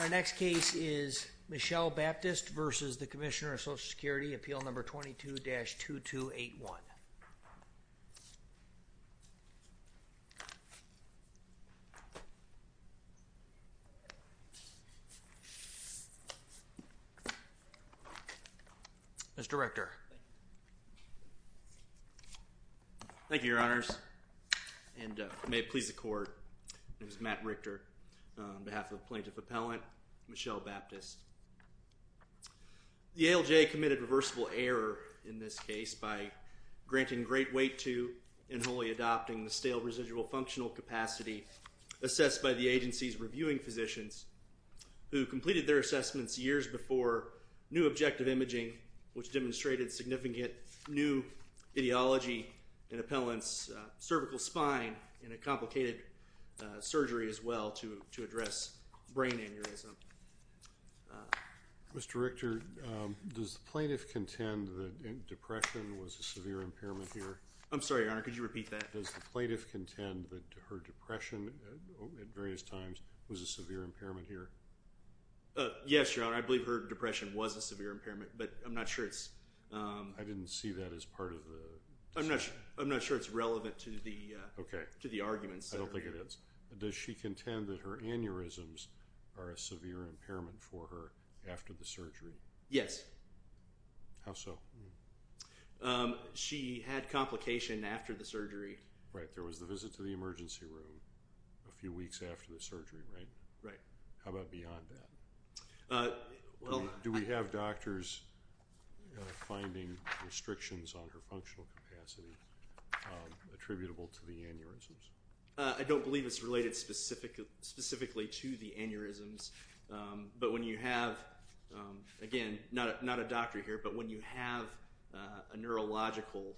Our next case is Michelle Baptist v. The Commissioner of Social Security, Appeal No. 22-2281. Mr. Richter. Thank you, Your Honors. And may it please the Court, My name is Matt Richter, on behalf of the Plaintiff Appellant, Michelle Baptist. The ALJ committed reversible error in this case by granting great weight to and wholly adopting the stale residual functional capacity assessed by the agency's reviewing physicians, who completed their assessments years before new objective imaging, which demonstrated significant new ideology in appellants' cervical spine in a complicated surgery as well to address brain aneurysm. Mr. Richter, does the Plaintiff contend that depression was a severe impairment here? I'm sorry, Your Honor, could you repeat that? Does the Plaintiff contend that her depression at various times was a severe impairment here? Yes, Your Honor, I believe her depression was a severe impairment, but I'm not sure it's... I didn't see that as part of the... I'm not sure it's relevant to the arguments. I don't think it is. Does she contend that her aneurysms are a severe impairment for her after the surgery? Yes. How so? She had complication after the surgery. Right, there was the visit to the emergency room a few weeks after the surgery, right? Right. How about beyond that? Do we have doctors finding restrictions on her functional capacity attributable to the aneurysms? I don't believe it's related specifically to the aneurysms, but when you have, again, not a doctor here, but when you have a neurological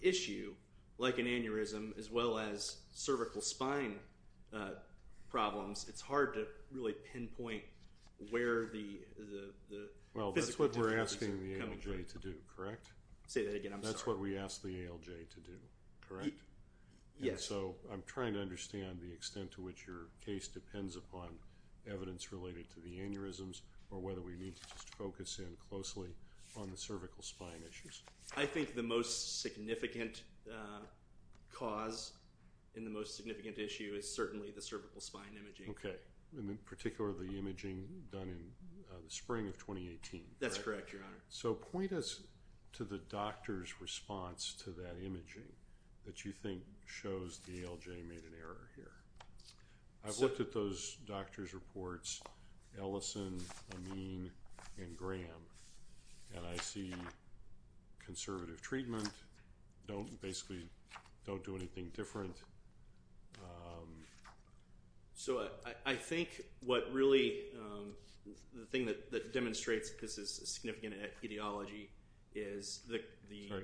issue, like an aneurysm, as well as cervical spine problems, it's hard to really pinpoint where the... Well, that's what we're asking the ALJ to do, correct? Say that again, I'm sorry. That's what we ask the ALJ to do, correct? Yes. And so I'm trying to understand the extent to which your case depends upon evidence related to the aneurysms or whether we need to just focus in closely on the cervical spine issues. I think the most significant cause and the most significant issue is certainly the cervical spine imaging. Okay, and in particular the imaging done in the spring of 2018, correct? That's correct, Your Honor. So point us to the doctor's response to that imaging that you think shows the ALJ made an error here. I've looked at those doctors' reports, Ellison, Amin, and Graham, and I see conservative treatment, basically don't do anything different. So I think what really the thing that demonstrates this is significant etiology is the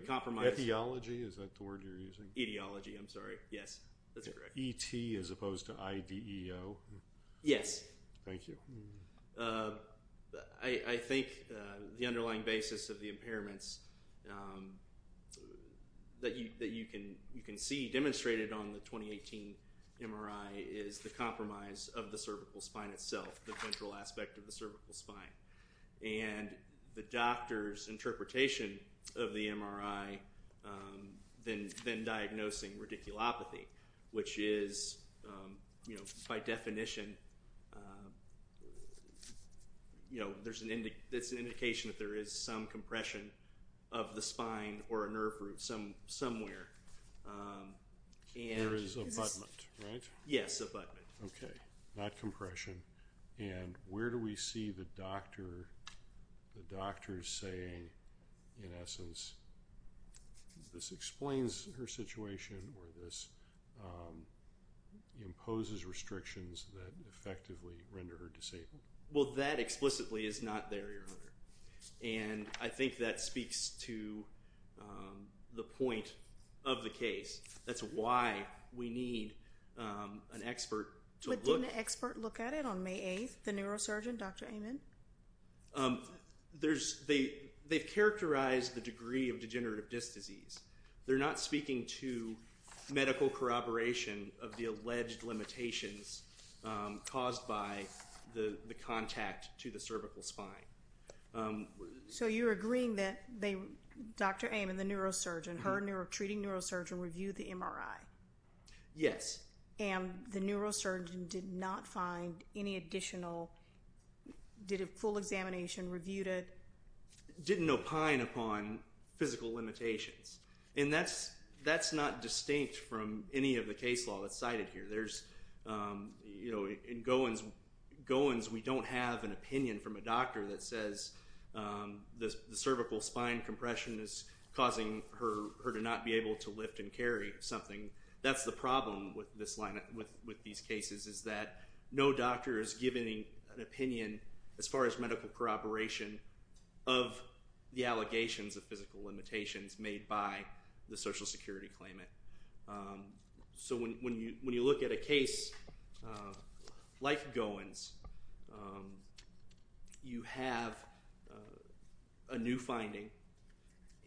compromise. Etiology, is that the word you're using? Etiology, I'm sorry. Yes, that's correct. Is that E-T as opposed to I-D-E-O? Yes. Thank you. I think the underlying basis of the impairments that you can see demonstrated on the 2018 MRI is the compromise of the cervical spine itself, the ventral aspect of the cervical spine. And the doctor's interpretation of the MRI, then diagnosing radiculopathy, which is, by definition, it's an indication that there is some compression of the spine or a nerve root somewhere. There is abutment, right? Yes, abutment. Okay, not compression. And where do we see the doctor saying, in essence, this explains her situation or this imposes restrictions that effectively render her disabled? Well, that explicitly is not there, Your Honor. And I think that speaks to the point of the case. That's why we need an expert to look at it. Did you meet with the surgeon on May 8th, the neurosurgeon, Dr. Amen? They've characterized the degree of degenerative disc disease. They're not speaking to medical corroboration of the alleged limitations caused by the contact to the cervical spine. So you're agreeing that Dr. Amen, the neurosurgeon, her treating neurosurgeon, reviewed the MRI? Yes. And the neurosurgeon did not find any additional, did a full examination, reviewed it? Didn't opine upon physical limitations. And that's not distinct from any of the case law that's cited here. In Gowans, we don't have an opinion from a doctor that says the cervical spine compression is causing her to not be able to lift and carry something. That's the problem with these cases is that no doctor is giving an opinion as far as medical corroboration of the allegations of physical limitations made by the Social Security claimant. So when you look at a case like Gowans, you have a new finding,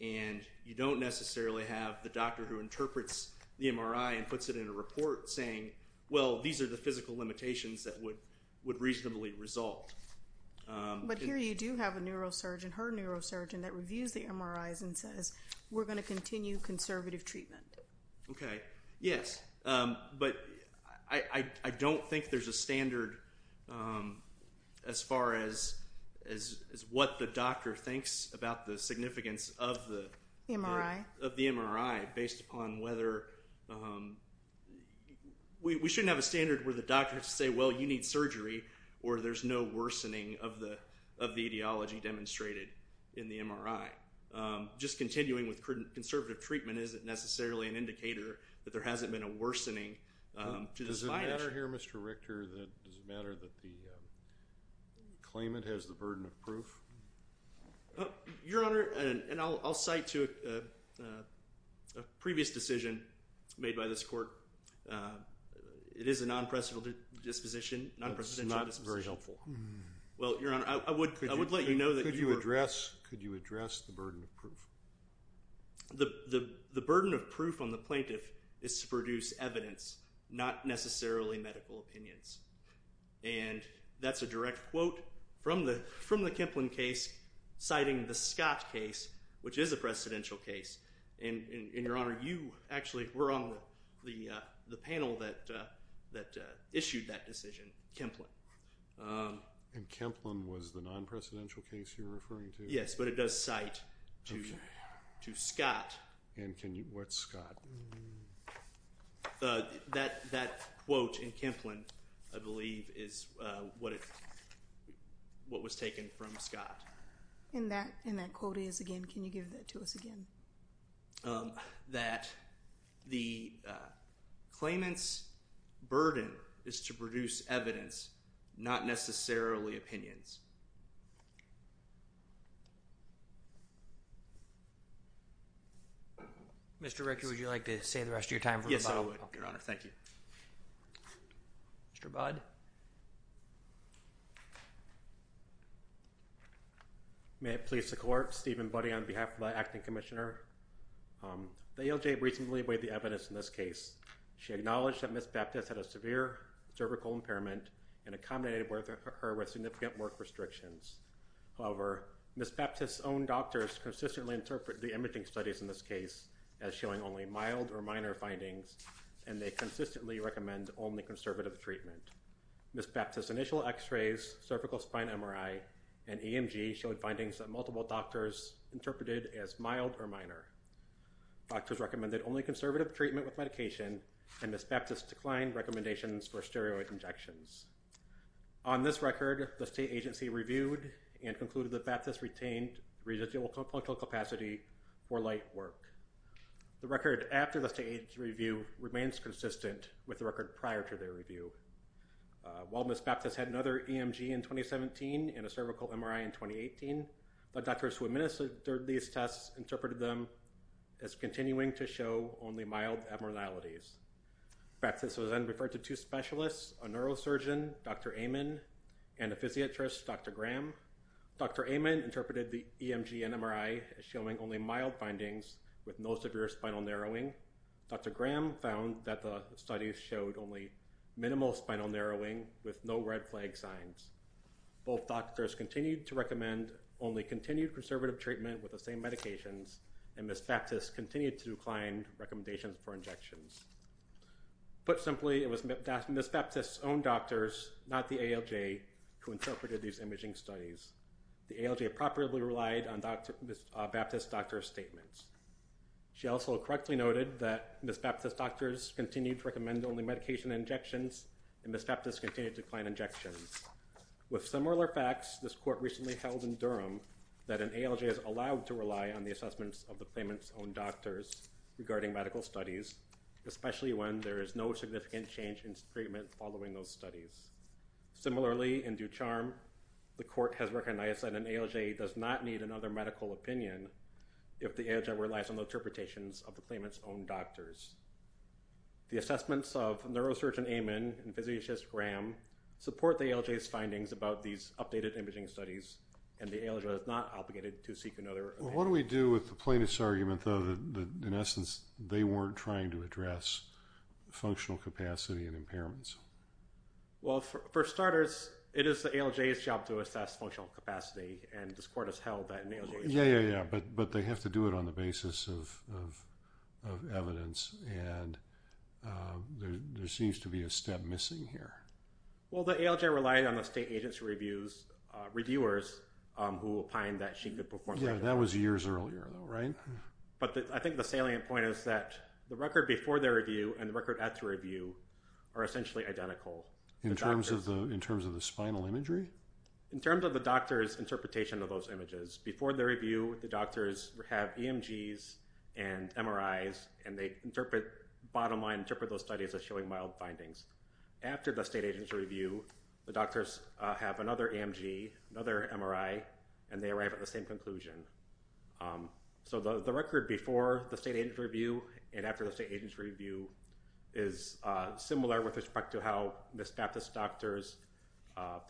and you don't necessarily have the doctor who interprets the MRI and puts it in a report saying, well, these are the physical limitations that would reasonably result. But here you do have a neurosurgeon, her neurosurgeon, that reviews the MRIs and says, we're going to continue conservative treatment. OK. Yes. But I don't think there's a standard as far as what the doctor thinks about the significance of the MRI based upon whether, we shouldn't have a standard where the doctor has to say, well, you need surgery, or there's no worsening of the ideology demonstrated in the MRI. Just continuing with conservative treatment isn't necessarily an indicator that there hasn't been a worsening to this finding. Does it matter here, Mr. Richter, that the claimant has the burden of proof? Your Honor, and I'll cite to a previous decision made by this court, it is a non-presidential disposition. That's not very helpful. Well, Your Honor, I would let you know that you are correct. Could you address the burden of proof? The burden of proof on the plaintiff is to produce evidence, not necessarily medical opinions. And that's a direct quote from the Kemplin case, citing the Scott case, which is a presidential case. And Your Honor, you actually were on the panel that issued that decision, Kemplin. And Kemplin was the non-presidential case you're referring to? Yes, but it does cite to Scott. And what's Scott? That quote in Kemplin, I believe, is what was taken from Scott. And that quote is, again, can you give that to us again? That the claimant's burden is to produce evidence, not necessarily opinions. Mr. Richter, would you like to save the rest of your time for the final? Yes, I would, Your Honor. Thank you. Mr. Budd? May it please the Court, Stephen Budd on behalf of the Acting Commissioner. The ALJ recently weighed the evidence in this case. She acknowledged that Ms. Baptist had a severe cervical impairment and accommodated her with significant work restrictions. However, Ms. Baptist's own doctors consistently interpret the imaging studies in this case as showing only mild or minor findings, and they consistently recommend only conservative treatment. Ms. Baptist's initial x-rays, cervical spine MRI, and EMG showed findings that multiple doctors interpreted as mild or minor. Doctors recommended only conservative treatment with medication, and Ms. Baptist declined recommendations for steroid injections. On this record, the state agency reviewed and concluded that Baptist retained residual functional capacity for light work. The record after the state agency review remains consistent with the record prior to their review. While Ms. Baptist had another EMG in 2017 and a cervical MRI in 2018, the doctors who administered these tests interpreted them as continuing to show only mild abnormalities. Baptist was then referred to two specialists, a neurosurgeon, Dr. Amen, and a physiatrist, Dr. Graham. Dr. Amen interpreted the EMG and MRI as showing only mild findings with no severe spinal narrowing. Dr. Graham found that the studies showed only minimal spinal narrowing with no red flag signs. Both doctors continued to recommend only continued conservative treatment with the same medications, and Ms. Baptist continued to decline recommendations for injections. Put simply, it was Ms. Baptist's own doctors, not the ALJ, who interpreted these imaging studies. The ALJ appropriately relied on Ms. Baptist's doctor's statements. She also correctly noted that Ms. Baptist's doctors continued to recommend only medication injections, and Ms. Baptist continued to decline injections. With similar facts, this court recently held in Durham that an ALJ is allowed to rely on the assessments of the claimant's own doctors regarding medical studies, especially when there is no significant change in treatment following those studies. Similarly, in Ducharme, the court has recognized that an ALJ does not need another medical opinion if the ALJ relies on the interpretations of the claimant's own doctors. The assessments of neurosurgeon Amen and physiatrist Graham support the ALJ's findings about these updated imaging studies, and the ALJ is not obligated to seek another opinion. What do we do with the plaintiff's argument, though, that, in essence, they weren't trying to address functional capacity and impairments? Well, for starters, it is the ALJ's job to assess functional capacity, and this court has held that in the ALJ. Yeah, yeah, yeah, but they have to do it on the basis of evidence, and there seems to be a step missing here. Well, the ALJ relied on the state agency reviewers who opined that she could perform better. Yeah, that was years earlier, though, right? But I think the salient point is that the record before their review and the record after review are essentially identical. In terms of the spinal imagery? In terms of the doctor's interpretation of those images, before their review, the doctors have EMGs and MRIs, and they interpret bottom line, interpret those studies as showing mild findings. After the state agency review, the doctors have another EMG, another MRI, and they arrive at the same conclusion. So the record before the state agency review and after the state agency review is similar with respect to how Ms. Baptist's doctors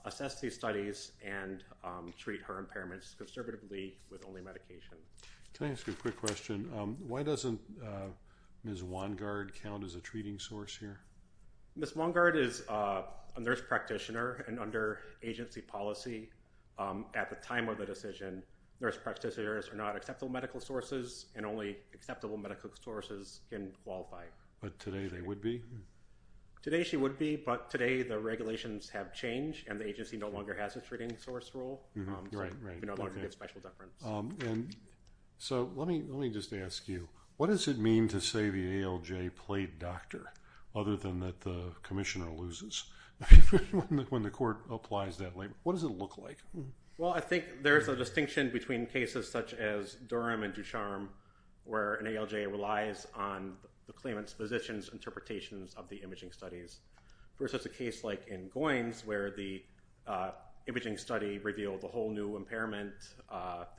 assess these studies and treat her impairments conservatively with only medication. Can I ask you a quick question? Why doesn't Ms. Wongard count as a treating source here? Ms. Wongard is a nurse practitioner, and under agency policy at the time of the decision, nurse practitioners are not acceptable medical sources, and only acceptable medical sources can qualify. But today they would be? Today she would be, but today the regulations have changed, and the agency no longer has a treating source role. Right, right. So let me just ask you, what does it mean to say the ALJ played doctor other than that the commissioner loses when the court applies that label? What does it look like? Well, I think there's a distinction between cases such as Durham and Ducharme, where an ALJ relies on the claimant's physician's interpretations of the imaging studies, versus a case like in Goines, where the imaging study revealed a whole new impairment.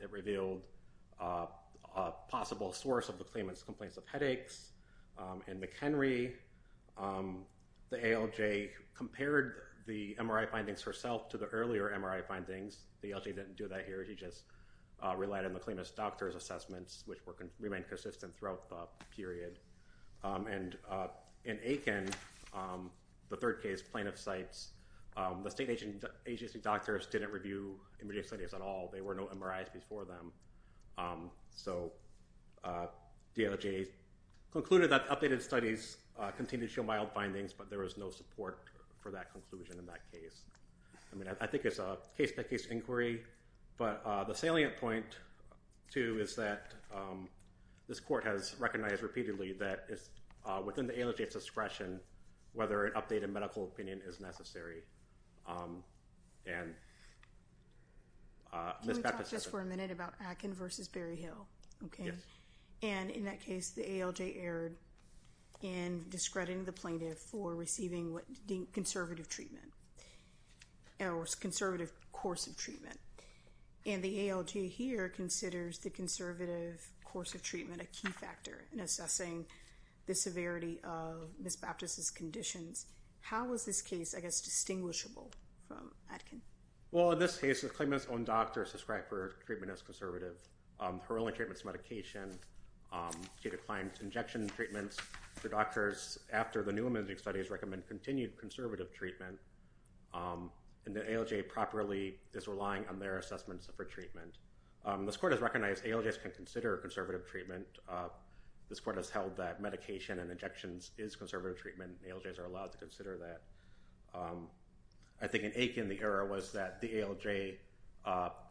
It revealed a possible source of the claimant's complaints of headaches. In McHenry, the ALJ compared the MRI findings herself to the earlier MRI findings. The ALJ didn't do that here. He just relied on the claimant's doctor's assessments, which remained consistent throughout the period. And in Aiken, the third case, plaintiff's sites, the state agency doctors didn't review imaging studies at all. There were no MRIs before them. So the ALJ concluded that updated studies continued to show mild findings, but there was no support for that conclusion in that case. I mean, I think it's a case-by-case inquiry. But the salient point, too, is that this court has recognized repeatedly that it's within the ALJ's discretion whether an updated medical opinion is necessary. Can we talk just for a minute about Aiken v. Berryhill? Yes. And in that case, the ALJ erred in discrediting the plaintiff for receiving conservative treatment or conservative course of treatment. And the ALJ here considers the conservative course of treatment a key factor in assessing the severity of Ms. Baptist's conditions. How is this case, I guess, distinguishable from Aiken? Well, in this case, the claimant's own doctors described her treatment as conservative. Her only treatment is medication. She declined injection treatments. The doctors, after the new imaging studies, recommend continued conservative treatment, and the ALJ properly is relying on their assessments for treatment. This court has recognized ALJs can consider conservative treatment. This court has held that medication and injections is conservative treatment. ALJs are allowed to consider that. I think an ache in the error was that the ALJ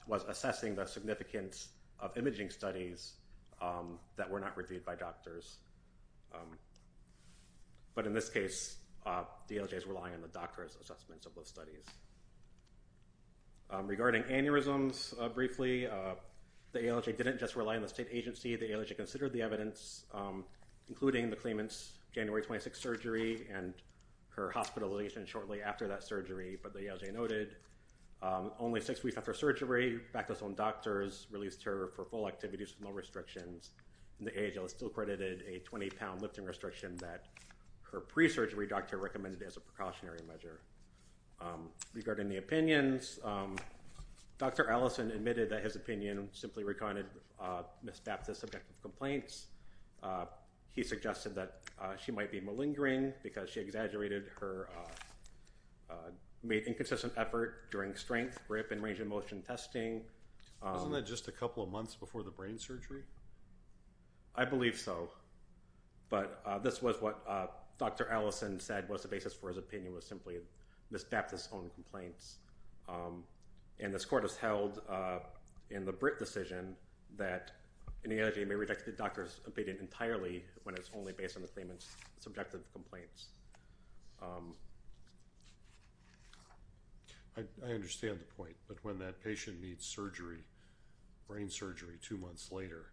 was assessing the significance of imaging studies that were not reviewed by doctors. But in this case, the ALJ is relying on the doctor's assessment of those studies. Regarding aneurysms, briefly, the ALJ didn't just rely on the state agency. The ALJ considered the evidence, including the claimant's January 26 surgery and her hospitalization shortly after that surgery. But the ALJ noted only six weeks after surgery, back to its own doctors, released her for full activities with no restrictions. And the ALJ still credited a 20-pound lifting restriction that her pre-surgery doctor recommended as a precautionary measure. Regarding the opinions, Dr. Allison admitted that his opinion simply recanted Ms. Baptist's subjective complaints. He suggested that she might be malingering because she exaggerated her inconsistent effort during strength, grip, and range-of-motion testing. Wasn't that just a couple of months before the brain surgery? I believe so. But this was what Dr. Allison said was the basis for his opinion was simply Ms. Baptist's own complaints. And this court has held in the Britt decision that an ALJ may reject the doctor's opinion entirely when it's only based on the claimant's subjective complaints. I understand the point. But when that patient needs brain surgery two months later,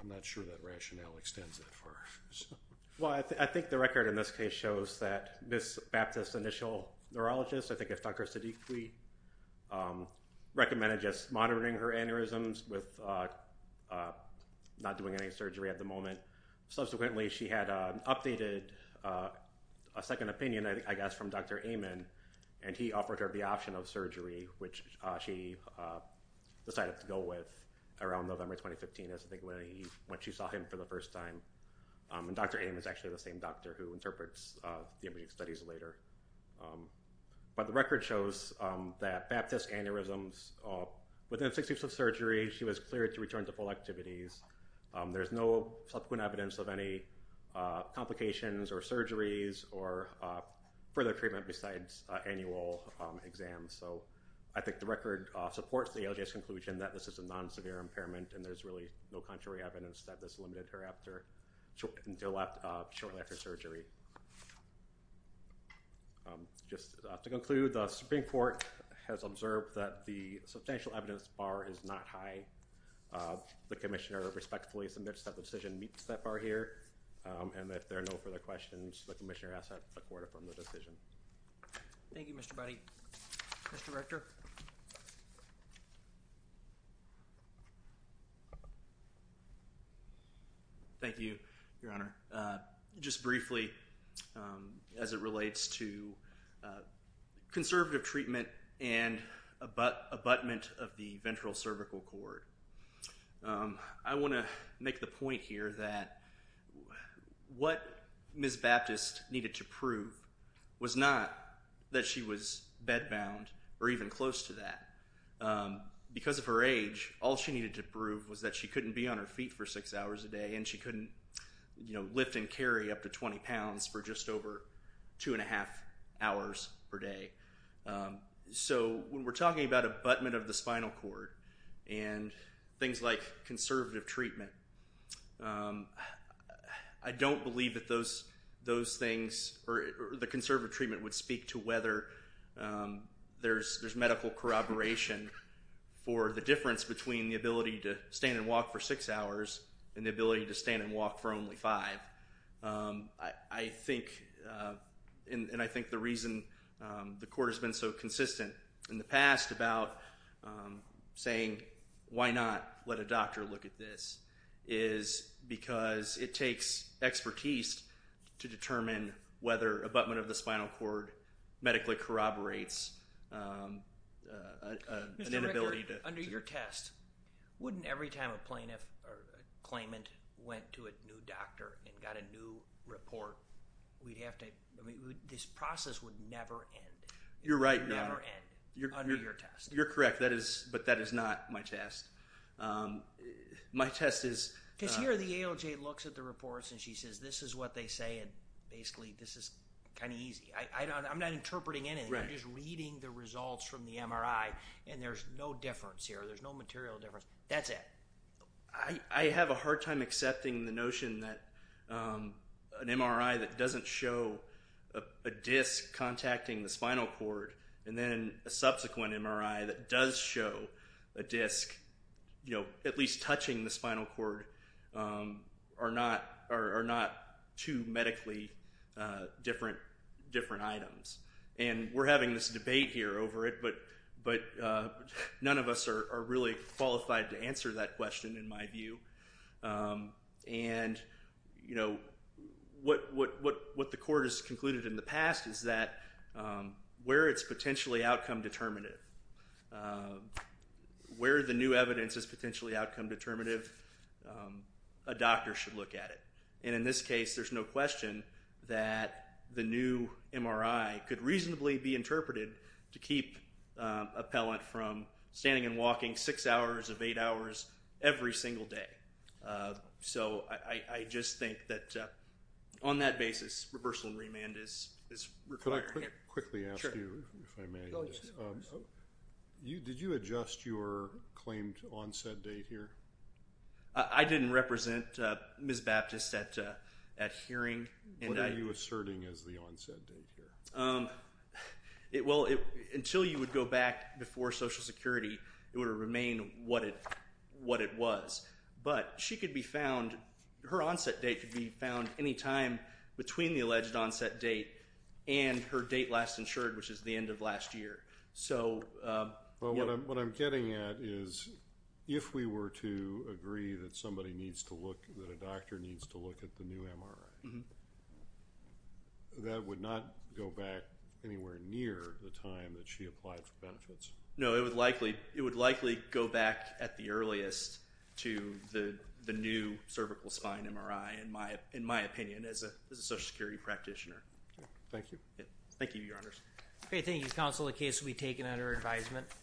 I'm not sure that rationale extends that far. Well, I think the record in this case shows that Ms. Baptist's initial neurologist, I think it's Dr. Siddiqui, recommended just monitoring her aneurysms with not doing any surgery at the moment. Subsequently, she had an updated second opinion, I guess, from Dr. Amon, and he offered her the option of surgery, which she decided to go with around November 2015, I think when she saw him for the first time. And Dr. Amon is actually the same doctor who interprets the immediate studies later. But the record shows that Baptist's aneurysms, within six weeks of surgery, she was cleared to return to full activities. There's no subsequent evidence of any complications or surgeries or further treatment besides annual exams. So I think the record supports the ALJ's conclusion that this is a non-severe impairment, and there's really no contrary evidence that this limited her shortly after surgery. Just to conclude, the Supreme Court has observed that the substantial evidence bar is not high. The commissioner respectfully submits that the decision meets that bar here. And if there are no further questions, the commissioner asks that the court affirm the decision. Thank you, Mr. Budde. Mr. Rector. Thank you, Your Honor. Just briefly, as it relates to conservative treatment and abutment of the ventral cervical cord, I want to make the point here that what Ms. Baptist needed to prove was not that she was bed-bound or even close to that. Because of her age, all she needed to prove was that she couldn't be on her feet for six hours a day and she couldn't lift and carry up to 20 pounds for just over two and a half hours per day. So when we're talking about abutment of the spinal cord and things like conservative treatment, I don't believe that those things or the conservative treatment would speak to whether there's medical corroboration or the difference between the ability to stand and walk for six hours and the ability to stand and walk for only five. I think, and I think the reason the court has been so consistent in the past about saying, why not let a doctor look at this is because it takes expertise to determine whether abutment of the spinal cord medically corroborates an inability to... Mr. Richter, under your test, wouldn't every time a plaintiff or a claimant went to a new doctor and got a new report, we'd have to, I mean, this process would never end. You're right, Your Honor. It would never end under your test. You're correct, but that is not my test. My test is... Because here the ALJ looks at the reports and she says, this is what they say and basically this is kind of easy. I'm not interpreting anything. I'm just reading the results from the MRI and there's no difference here. There's no material difference. That's it. I have a hard time accepting the notion that an MRI that doesn't show a disc contacting the spinal cord and then a subsequent MRI that does show a disc at least touching the spinal cord are not two medically different items. And we're having this debate here over it, but none of us are really qualified to answer that question in my view. And, you know, what the court has concluded in the past is that where it's potentially outcome determinative, where the new evidence is potentially outcome determinative, a doctor should look at it. And in this case, there's no question that the new MRI could reasonably be interpreted to keep appellant from standing and walking six hours of eight hours every single day. So I just think that on that basis, reversal and remand is required. Could I quickly ask you, if I may, did you adjust your claimed onset date here? I didn't represent Ms. Baptist at hearing. What are you asserting as the onset date here? Well, until you would go back before Social Security, it would have remained what it was. But she could be found, her onset date could be found any time between the alleged onset date and her date last insured, which is the end of last year. Well, what I'm getting at is if we were to agree that somebody needs to look, that a doctor needs to look at the new MRI, that would not go back anywhere near the time that she applied for benefits. No, it would likely go back at the earliest to the new cervical spine MRI, in my opinion, as a Social Security practitioner. Thank you. Thank you, Your Honors. Okay, thank you, Counsel. The case will be taken under advisement.